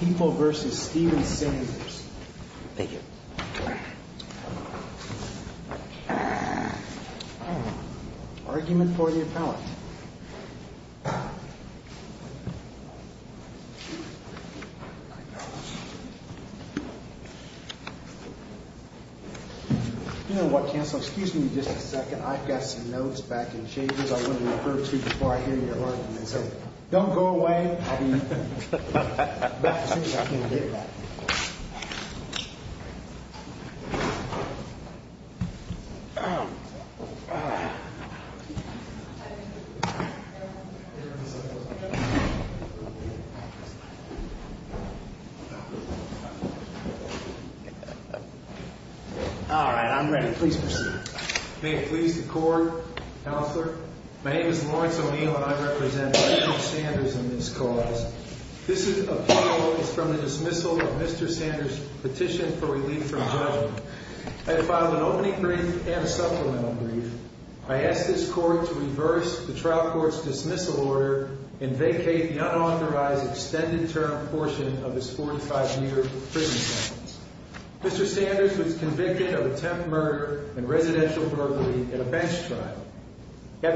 People v. Steven Sanders Lawrence O'Neill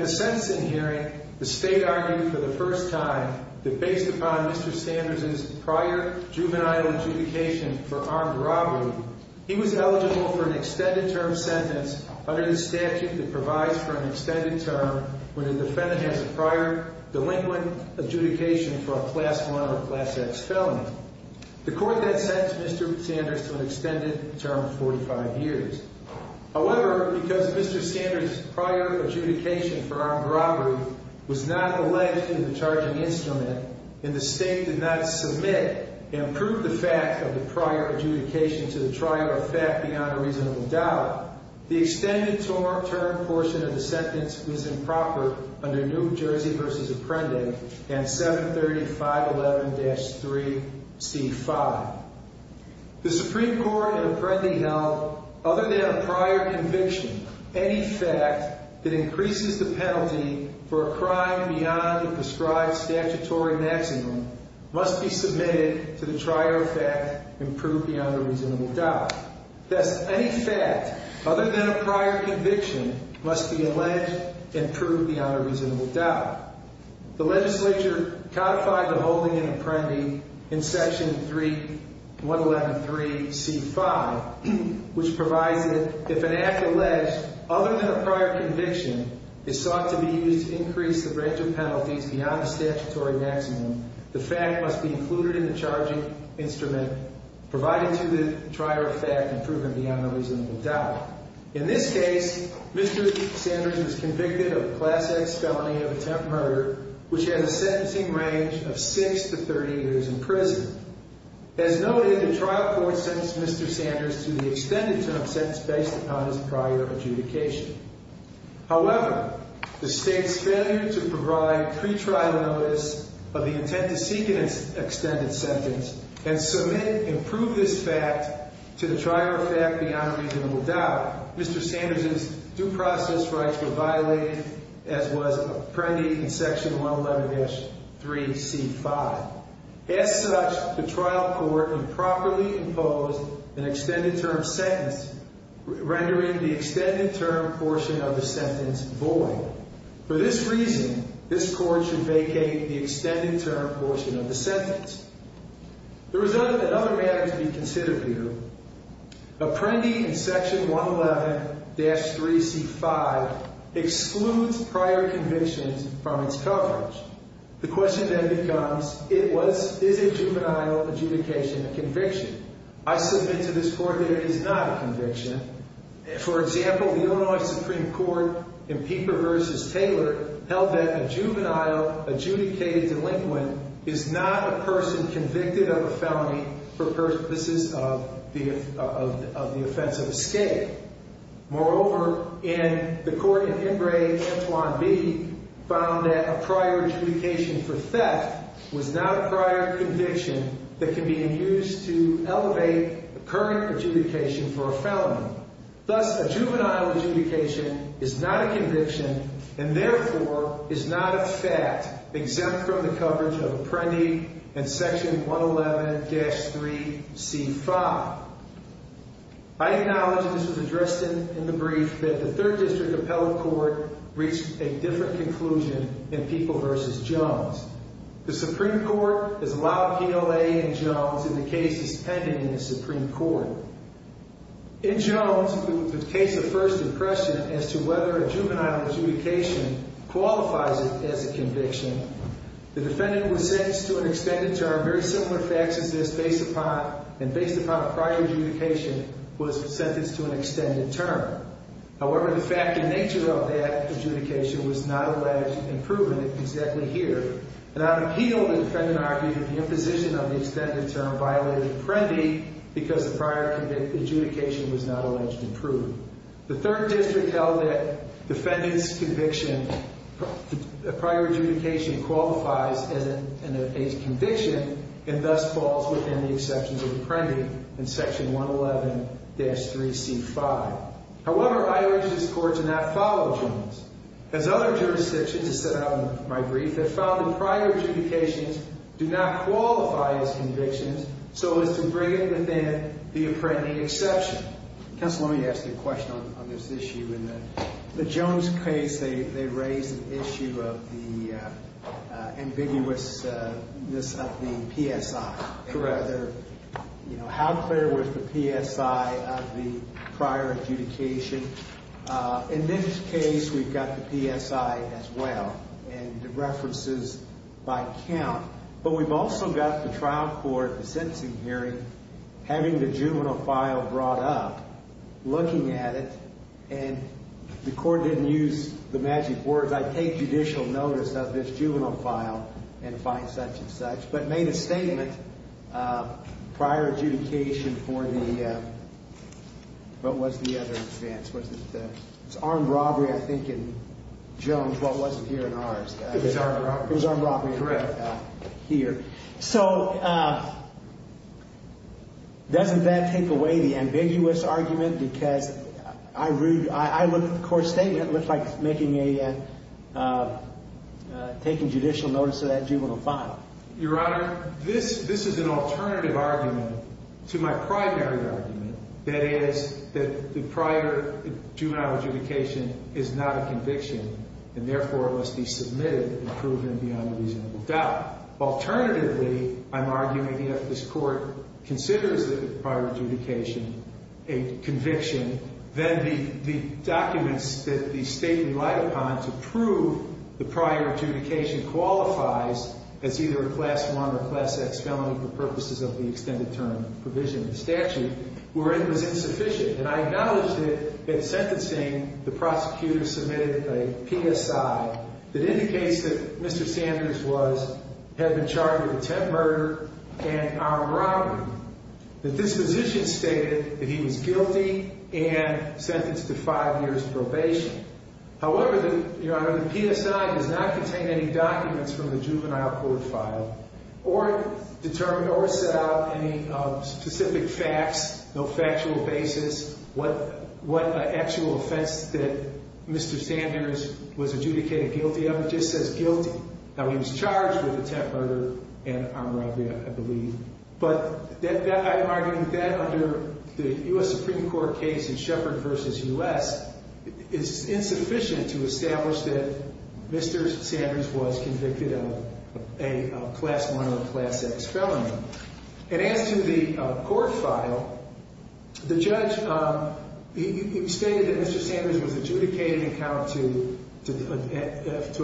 Stephenson hearing, the State argued for the first time that based upon Mr. Sanders' prior juvenile adjudication for armed robbery, he was eligible for an extended term sentence under the statute that provides for an extended term when a defendant has a prior delinquent adjudication for a Class I or Class X felony. The court then sentenced Mr. Sanders to an extended term of 45 years. However, because Mr. Sanders' prior adjudication for armed robbery was not alleged in the charging instrument, and the State did not submit and prove the fact of the prior adjudication to the trial are fact beyond a reasonable doubt, the extended term portion of the sentence was improper under New Jersey v. Apprendi and 73511-3c5. The Supreme Court in Apprendi held, other than a prior conviction, any fact that increases the penalty for a crime beyond the prescribed statutory maximum must be submitted to the trial fact and proved beyond a reasonable doubt. Thus, any fact other than a prior conviction must be alleged and proved beyond a reasonable doubt. The legislature codified the holding in Apprendi in Section 3113c5, which provides that if an act alleged other than a prior conviction is sought to be used to increase the branch of penalties beyond the statutory maximum, the fact must be included in the charging instrument provided to the trial fact and proven beyond a reasonable doubt. In this case, Mr. Sanders was convicted of Class X felony of attempt murder, which had a sentencing range of 6 to 30 years in prison. As noted, the trial court sentenced Mr. Sanders to the extended term sentence based upon his prior adjudication. However, the state's failure to provide pre-trial notice of the intent to seek an extended sentence and submit and prove this fact to the trial fact beyond a reasonable doubt, Mr. Sanders' due process rights were violated, as was Apprendi in Section 111-3c5. As such, the trial court improperly imposed an extended term sentence, rendering the extended term portion of the sentence void. For this reason, this court should vacate the extended term portion of the sentence. The result of another matter to be considered here, Apprendi in Section 111-3c5 excludes prior convictions from its coverage. The question then becomes, is a juvenile adjudication a conviction? I submit to this court that it is not a conviction. For example, the Illinois Supreme Court in Pieper v. Taylor held that a juvenile adjudicated delinquent is not a person convicted of a felony for purposes of the offense of escape. Moreover, in the court in Embraer, Antoine B. found that a prior adjudication for theft was not a prior conviction that can be used to elevate a current adjudication for a felony. Thus, a juvenile adjudication is not a conviction and therefore is not a fact exempt from the coverage of Apprendi in Section 111-3c5. I acknowledge, and this was addressed in the brief, that the Third District Appellate Court reached a different conclusion in Pieper v. Jones. The Supreme Court has allowed PLA in Jones in the cases pending in the Supreme Court. In Jones, the case of First Depression as to whether a juvenile adjudication qualifies it as a conviction, the defendant was sentenced to an extended term, very similar facts as this, and based upon a prior adjudication, was sentenced to an extended term. However, the fact and nature of that adjudication was not alleged and proven exactly here. And I would appeal that the defendant argued that the imposition of the extended term violated Apprendi because the prior adjudication was not alleged and proven. The Third District held that defendant's conviction, prior adjudication qualifies as a conviction and thus falls within the exceptions of Apprendi in Section 111-3c5. However, I urge this Court to not follow Jones. As other jurisdictions, as set out in my brief, have found that prior adjudications do not qualify as convictions so as to bring it within the Apprendi exception. Counsel, let me ask you a question on this issue. In the Jones case, they raised an issue of the ambiguousness of the PSI. How clear was the PSI of the prior adjudication? In this case, we've got the PSI as well and the references by count. But we've also got the trial court, the sentencing hearing, having the juvenile file brought up, looking at it, and the court didn't use the magic words, I take judicial notice of this juvenile file and find such and such, but made a statement prior adjudication for the, what was the other advance? It was armed robbery, I think, in Jones while it wasn't here in ours. It was armed robbery. It was armed robbery. Correct. Here. So doesn't that take away the ambiguous argument? Because I look at the court statement and it looks like taking judicial notice of that juvenile file. Your Honor, this is an alternative argument to my primary argument, that is, that the prior juvenile adjudication is not a conviction and therefore must be submitted and proven beyond reasonable doubt. Alternatively, I'm arguing if this court considers the prior adjudication a conviction, then the documents that the State relied upon to prove the prior adjudication qualifies as either a Class I or Class X felony for purposes of the extended term provision of the statute, were insufficient. And I acknowledge that in sentencing, the prosecutor submitted a PSI that indicates that Mr. Sanders was, had been charged with attempt murder and armed robbery, that this position stated that he was guilty and sentenced to five years probation. However, Your Honor, the PSI does not contain any documents from the juvenile court file or set out any specific facts, no factual basis, what actual offense that Mr. Sanders was adjudicated guilty of. It just says guilty. Now, he was charged with attempt murder and armed robbery, I believe. But I'm arguing that under the U.S. Supreme Court case in Shepard v. U.S., it's insufficient to establish that Mr. Sanders was convicted of a Class I or Class X felony. And as to the court file, the judge stated that Mr. Sanders was adjudicated in account to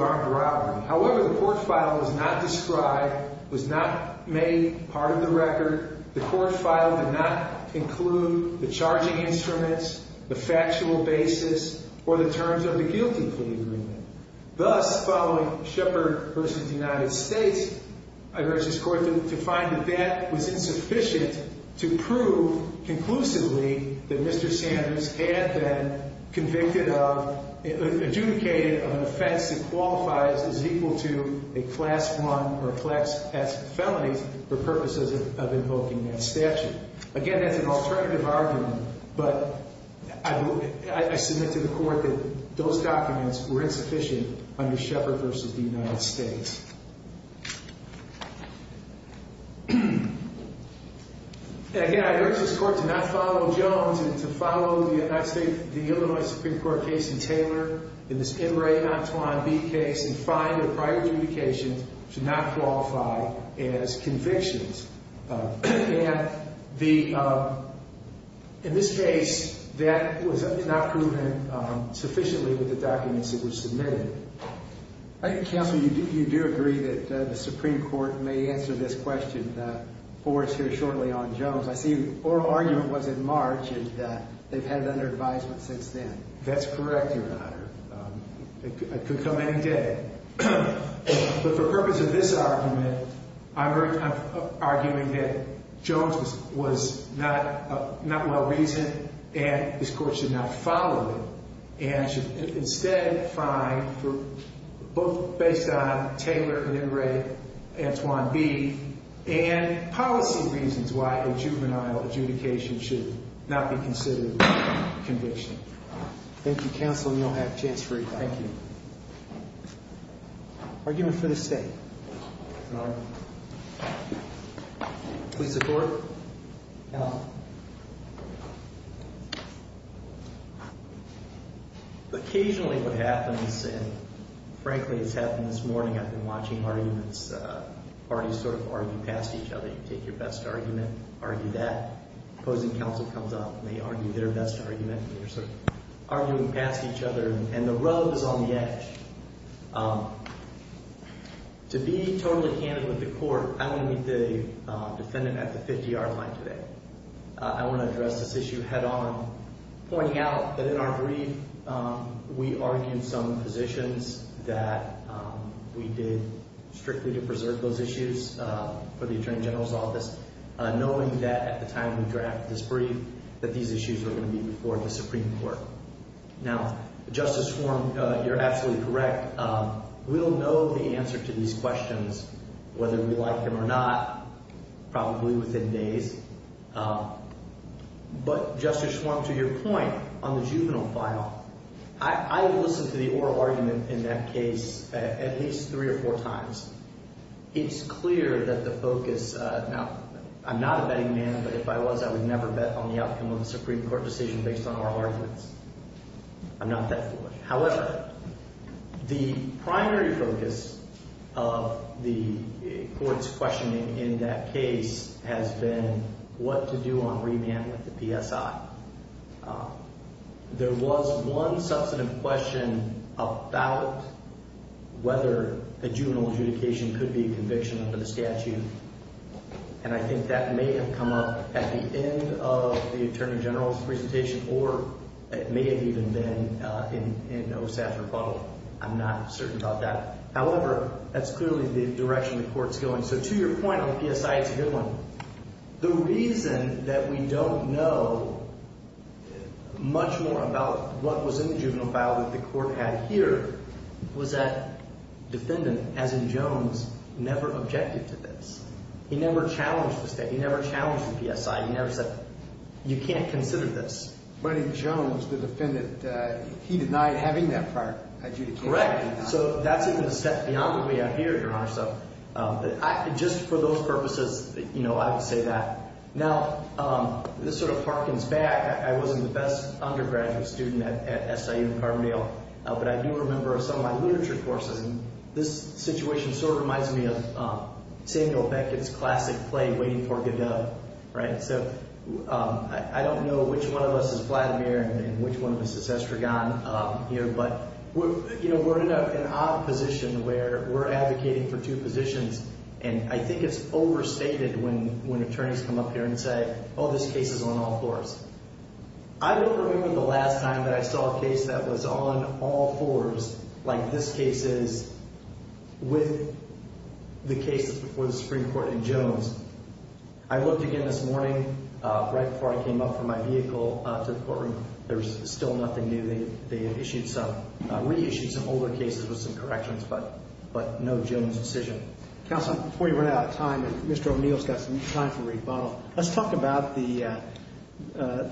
armed robbery. However, the court file was not described, was not made part of the record. The court file did not include the charging instruments, the factual basis, or the terms of the guilty plea agreement. Thus, following Shepard v. United States, I urge this court to find that that was insufficient to prove conclusively that Mr. Sanders had been convicted of, adjudicated of an offense that qualifies as equal to a Class I or Class X felony for purposes of invoking that statute. Again, that's an alternative argument, but I submit to the court that those documents were insufficient under Shepard v. United States. And again, I urge this court to not follow Jones and to follow the United States, the Illinois Supreme Court case in Taylor, in this Emory v. Antoine B case, and find that prior adjudication should not qualify as convictions. And the, in this case, that was not proven sufficiently with the documents that were submitted. I think, counsel, you do agree that the Supreme Court may answer this question for us here shortly on Jones. I see the oral argument was in March, and they've had it under advisement since then. That's correct, Your Honor. It could come any day. But for the purpose of this argument, I'm arguing that Jones was not well-reasoned, and this court should not follow it, and should instead find, both based on Taylor, Emory, Antoine B, and policy reasons why a juvenile adjudication should not be considered conviction. Thank you, counsel. Counsel, you'll have a chance for your time. Thank you. Argument for the State. Please support. Counsel. Occasionally, what happens, and frankly, it's happened this morning, I've been watching arguments, parties sort of argue past each other. You take your best argument, argue that. Opposing counsel comes up, and they argue their best argument, and they're sort of arguing past each other, and the rub is on the edge. To be totally candid with the court, I'm going to meet the defendant at the 50-yard line today. I want to address this issue head-on, pointing out that in our brief, we argued some positions that we did strictly to preserve those issues for the attorney general's office, knowing that at the time we drafted this brief, that these issues were going to be before the Supreme Court. Now, Justice Schwarm, you're absolutely correct. We'll know the answer to these questions, whether we like them or not, probably within days. But, Justice Schwarm, to your point on the juvenile file, I have listened to the oral argument in that case at least three or four times. It's clear that the focus – now, I'm not a betting man, but if I was, I would never bet on the outcome of a Supreme Court decision based on oral arguments. I'm not that foolish. However, the primary focus of the court's questioning in that case has been what to do on remand with the PSI. There was one substantive question about whether a juvenile adjudication could be a conviction under the statute, and I think that may have come up at the end of the attorney general's presentation or it may have even been in OSAF's rebuttal. I'm not certain about that. However, that's clearly the direction the court's going. So, to your point on the PSI, it's a good one. The reason that we don't know much more about what was in the juvenile file that the court had here was that defendant, as in Jones, never objected to this. He never challenged the statute. He never challenged the PSI. He never said, you can't consider this. But in Jones, the defendant, he denied having that prior adjudication. Correct. So, that's even a step beyond what we have here, Your Honor. So, just for those purposes, I would say that. Now, this sort of harkens back. I wasn't the best undergraduate student at SIU Carbondale, but I do remember some of my literature courses, and this situation sort of reminds me of Samuel Beckett's classic play, Waiting for Godot. So, I don't know which one of us is Vladimir and which one of us is Estragon here, but we're in an odd position where we're advocating for two positions. And I think it's overstated when attorneys come up here and say, oh, this case is on all fours. I don't remember the last time that I saw a case that was on all fours, like this case is, with the case before the Supreme Court in Jones. I looked again this morning, right before I came up from my vehicle to the courtroom. There was still nothing new. They had issued some, reissued some older cases with some corrections, but no Jones decision. Counsel, before you run out of time, and Mr. O'Neill's got some time for rebuttal, let's talk about the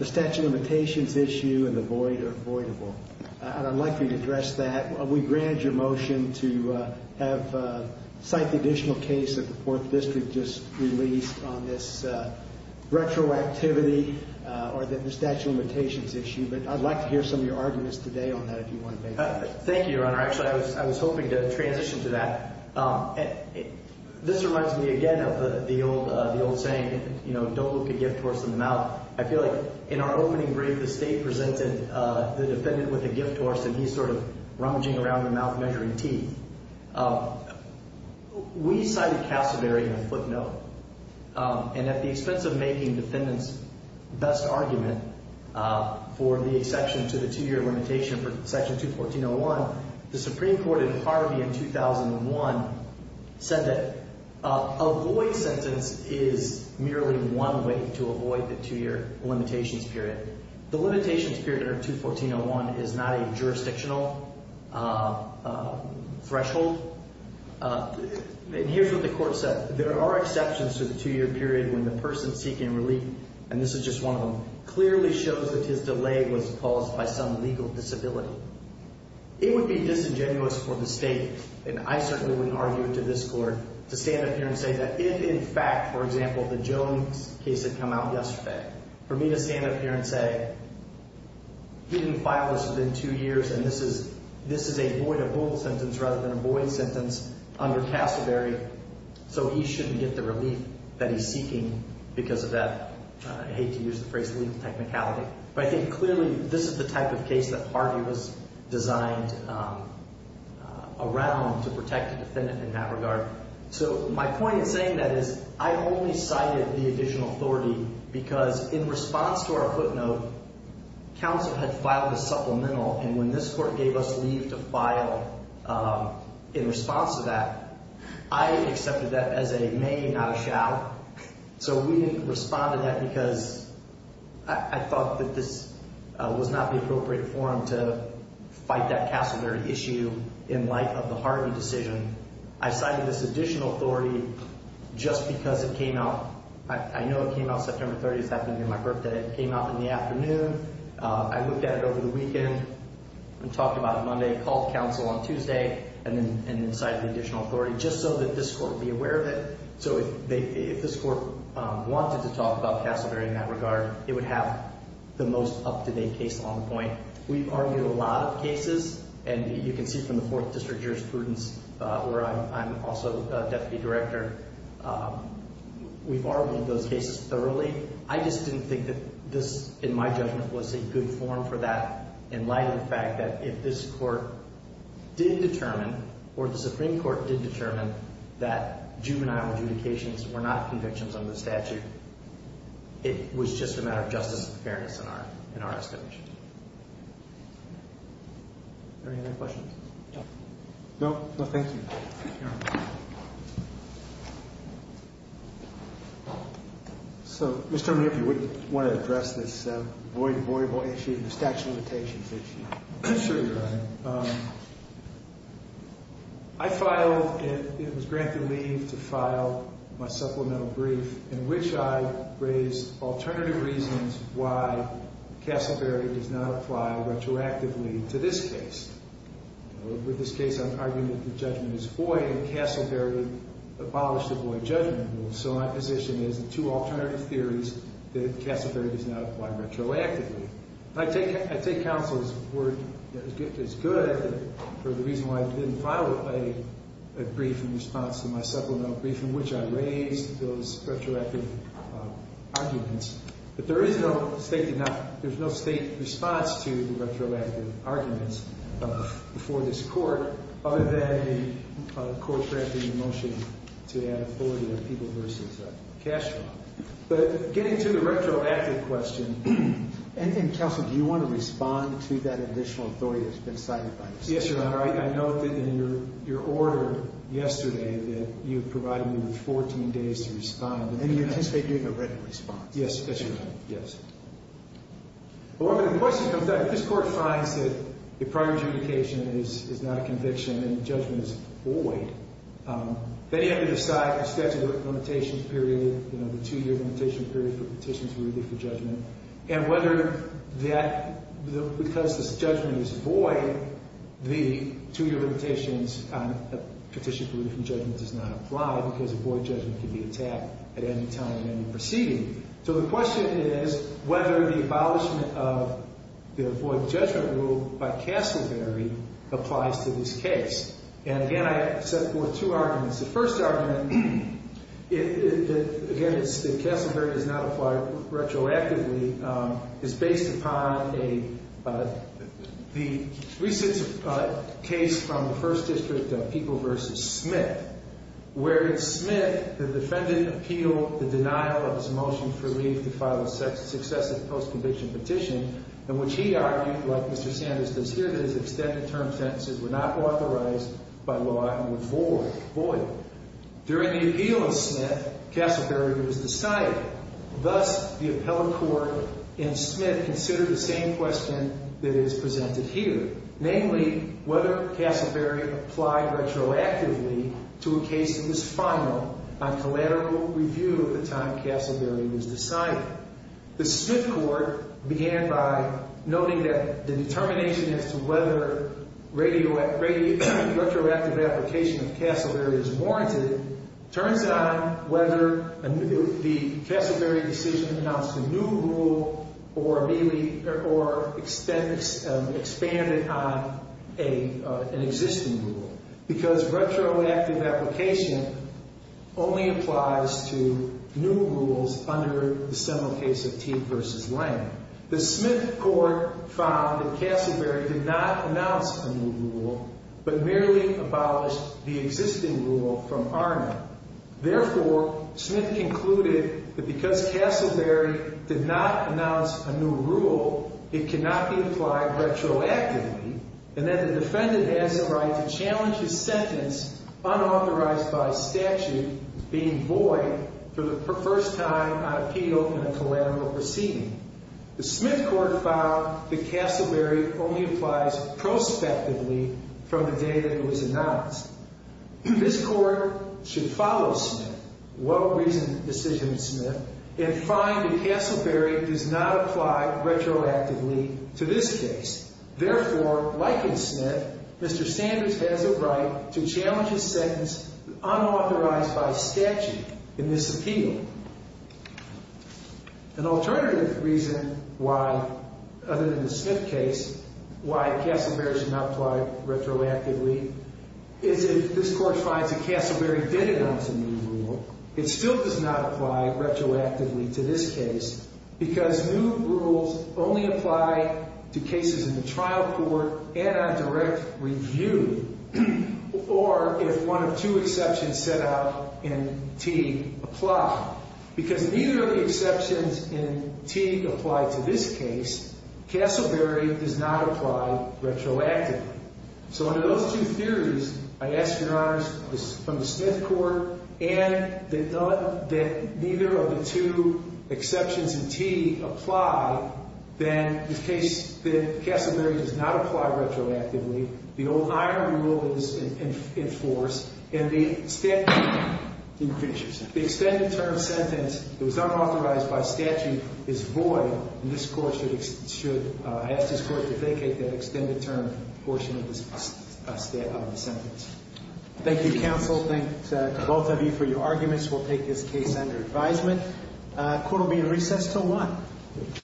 statute of limitations issue and the void or avoidable. And I'd like you to address that. We grant your motion to have, cite the additional case that the Fourth District just released on this retroactivity or the statute of limitations issue. But I'd like to hear some of your arguments today on that, if you want to make it. Thank you, Your Honor. Actually, I was hoping to transition to that. This reminds me again of the old saying, you know, don't look a gift horse in the mouth. I feel like in our opening brief, the State presented the defendant with a gift horse, and he's sort of rummaging around the mouth measuring teeth. We cited Cassavery in a footnote, and at the expense of making defendant's best argument for the exception to the two-year limitation for Section 214.01, the Supreme Court in Harvey in 2001 said that avoid sentence is merely one way to avoid the two-year limitations period. The limitations period under 214.01 is not a jurisdictional threshold. And here's what the Court said. There are exceptions to the two-year period when the person seeking relief, and this is just one of them, clearly shows that his delay was caused by some legal disability. It would be disingenuous for the State, and I certainly wouldn't argue it to this Court, to stand up here and say that if, in fact, for example, the Jones case had come out yesterday, for me to stand up here and say he didn't file this within two years, and this is a void-of-vote sentence rather than a void sentence under Cassavery, so he shouldn't get the relief that he's seeking because of that, I hate to use the phrase, legal technicality. But I think clearly this is the type of case that Harvey was designed around to protect the defendant in that regard. So my point in saying that is I only cited the additional authority because in response to our footnote, counsel had filed a supplemental, and when this Court gave us leave to file in response to that, I accepted that as a may, not a shall. So we didn't respond to that because I thought that this was not the appropriate forum to fight that Cassavery issue in light of the Harvey decision. I cited this additional authority just because it came out. I know it came out September 30th, that being my birthday. It came out in the afternoon. I looked at it over the weekend and talked about it Monday, called counsel on Tuesday, and then cited the additional authority just so that this Court would be aware of it. So if this Court wanted to talk about Cassavery in that regard, it would have the most up-to-date case on the point. We've argued a lot of cases, and you can see from the Fourth District jurisprudence where I'm also deputy director, we've argued those cases thoroughly. I just didn't think that this, in my judgment, was a good forum for that in light of the fact that if this Court did determine or the Supreme Court did determine that juvenile adjudications were not convictions under the statute, it was just a matter of justice and fairness in our estimation. Are there any other questions? No. No? No, thank you, Your Honor. So, Mr. Monique, you wouldn't want to address this avoidable statute of limitations issue? Sure, Your Honor. I filed, it was granted leave to file my supplemental brief in which I raised alternative reasons why Cassavery does not apply retroactively to this case. With this case, I'm arguing that the judgment is void, and Cassavery abolished the void judgment rule. So my position is two alternative theories that Cassavery does not apply retroactively. I take counsel's word that it's good for the reason why I didn't file a brief in response to my supplemental brief in which I raised those retroactive arguments, but there is no state response to the retroactive arguments before this Court other than a court drafting a motion to add a void of people versus Cassavery. But getting to the retroactive question, anything, counsel, do you want to respond to that additional authority that's been cited by this Court? Yes, Your Honor. I know that in your order yesterday that you provided me with 14 days to respond. And you anticipate doing a written response? Yes, yes, Your Honor. Yes. Well, the question comes down, if this Court finds that the prior adjudication is not a conviction and judgment is void, then you have to decide the statute of limitations period, you know, the two-year limitation period for petitions rooted for judgment, and whether that, because this judgment is void, the two-year limitations on a petition for rooted from judgment does not apply because a void judgment can be attacked at any time in any proceeding. So the question is whether the abolishment of the void judgment rule by Cassavery applies to this case. And, again, I set forth two arguments. The first argument, again, is that Cassavery does not apply retroactively. It's based upon a, the recent case from the First District of People v. Smith, where in Smith the defendant appealed the denial of his motion for leave to file a successive post-conviction petition, in which he argued, like Mr. Sanders does here, that his extended term sentences were not authorized by law and were void. During the appeal of Smith, Cassavery was decided. Thus, the appellate court in Smith considered the same question that is presented here, namely whether Cassavery applied retroactively to a case that was final on collateral review at the time Cassavery was decided. The Smith court began by noting that the determination as to whether retroactive application of Cassavery is warranted turns on whether the Cassavery decision announced a new rule or expanded on an existing rule because retroactive application only applies to new rules under the seminal case of Teague v. Lane. The Smith court found that Cassavery did not announce a new rule, but merely abolished the existing rule from ARNA. Therefore, Smith concluded that because Cassavery did not announce a new rule, it cannot be applied retroactively, and that the defendant has the right to challenge his sentence, unauthorized by statute, being void for the first time on appeal in a collateral proceeding. The Smith court found that Cassavery only applies prospectively from the day that it was announced. This court should follow Smith, well-reasoned decision of Smith, and find that Cassavery does not apply retroactively to this case. Therefore, like in Smith, Mr. Sanders has a right to challenge his sentence unauthorized by statute in this appeal. An alternative reason why, other than the Smith case, why Cassavery should not apply retroactively, is if this court finds that Cassavery did announce a new rule, it still does not apply retroactively to this case because new rules only apply to cases in the trial court and on direct review, or if one of two exceptions set out in Teague apply. Because neither of the exceptions in Teague apply to this case, Cassavery does not apply retroactively. So under those two theories, I ask your honors, from the Smith court, and that neither of the two exceptions in Teague apply, then the case that Cassavery does not apply retroactively, the old iron rule is in force, and the extended term sentence that was unauthorized by statute is void, and this court should ask this court to vacate that extended term portion of the sentence. Thank you, counsel. Thank both of you for your arguments. We'll take this case under advisement. Court will be in recess until 1.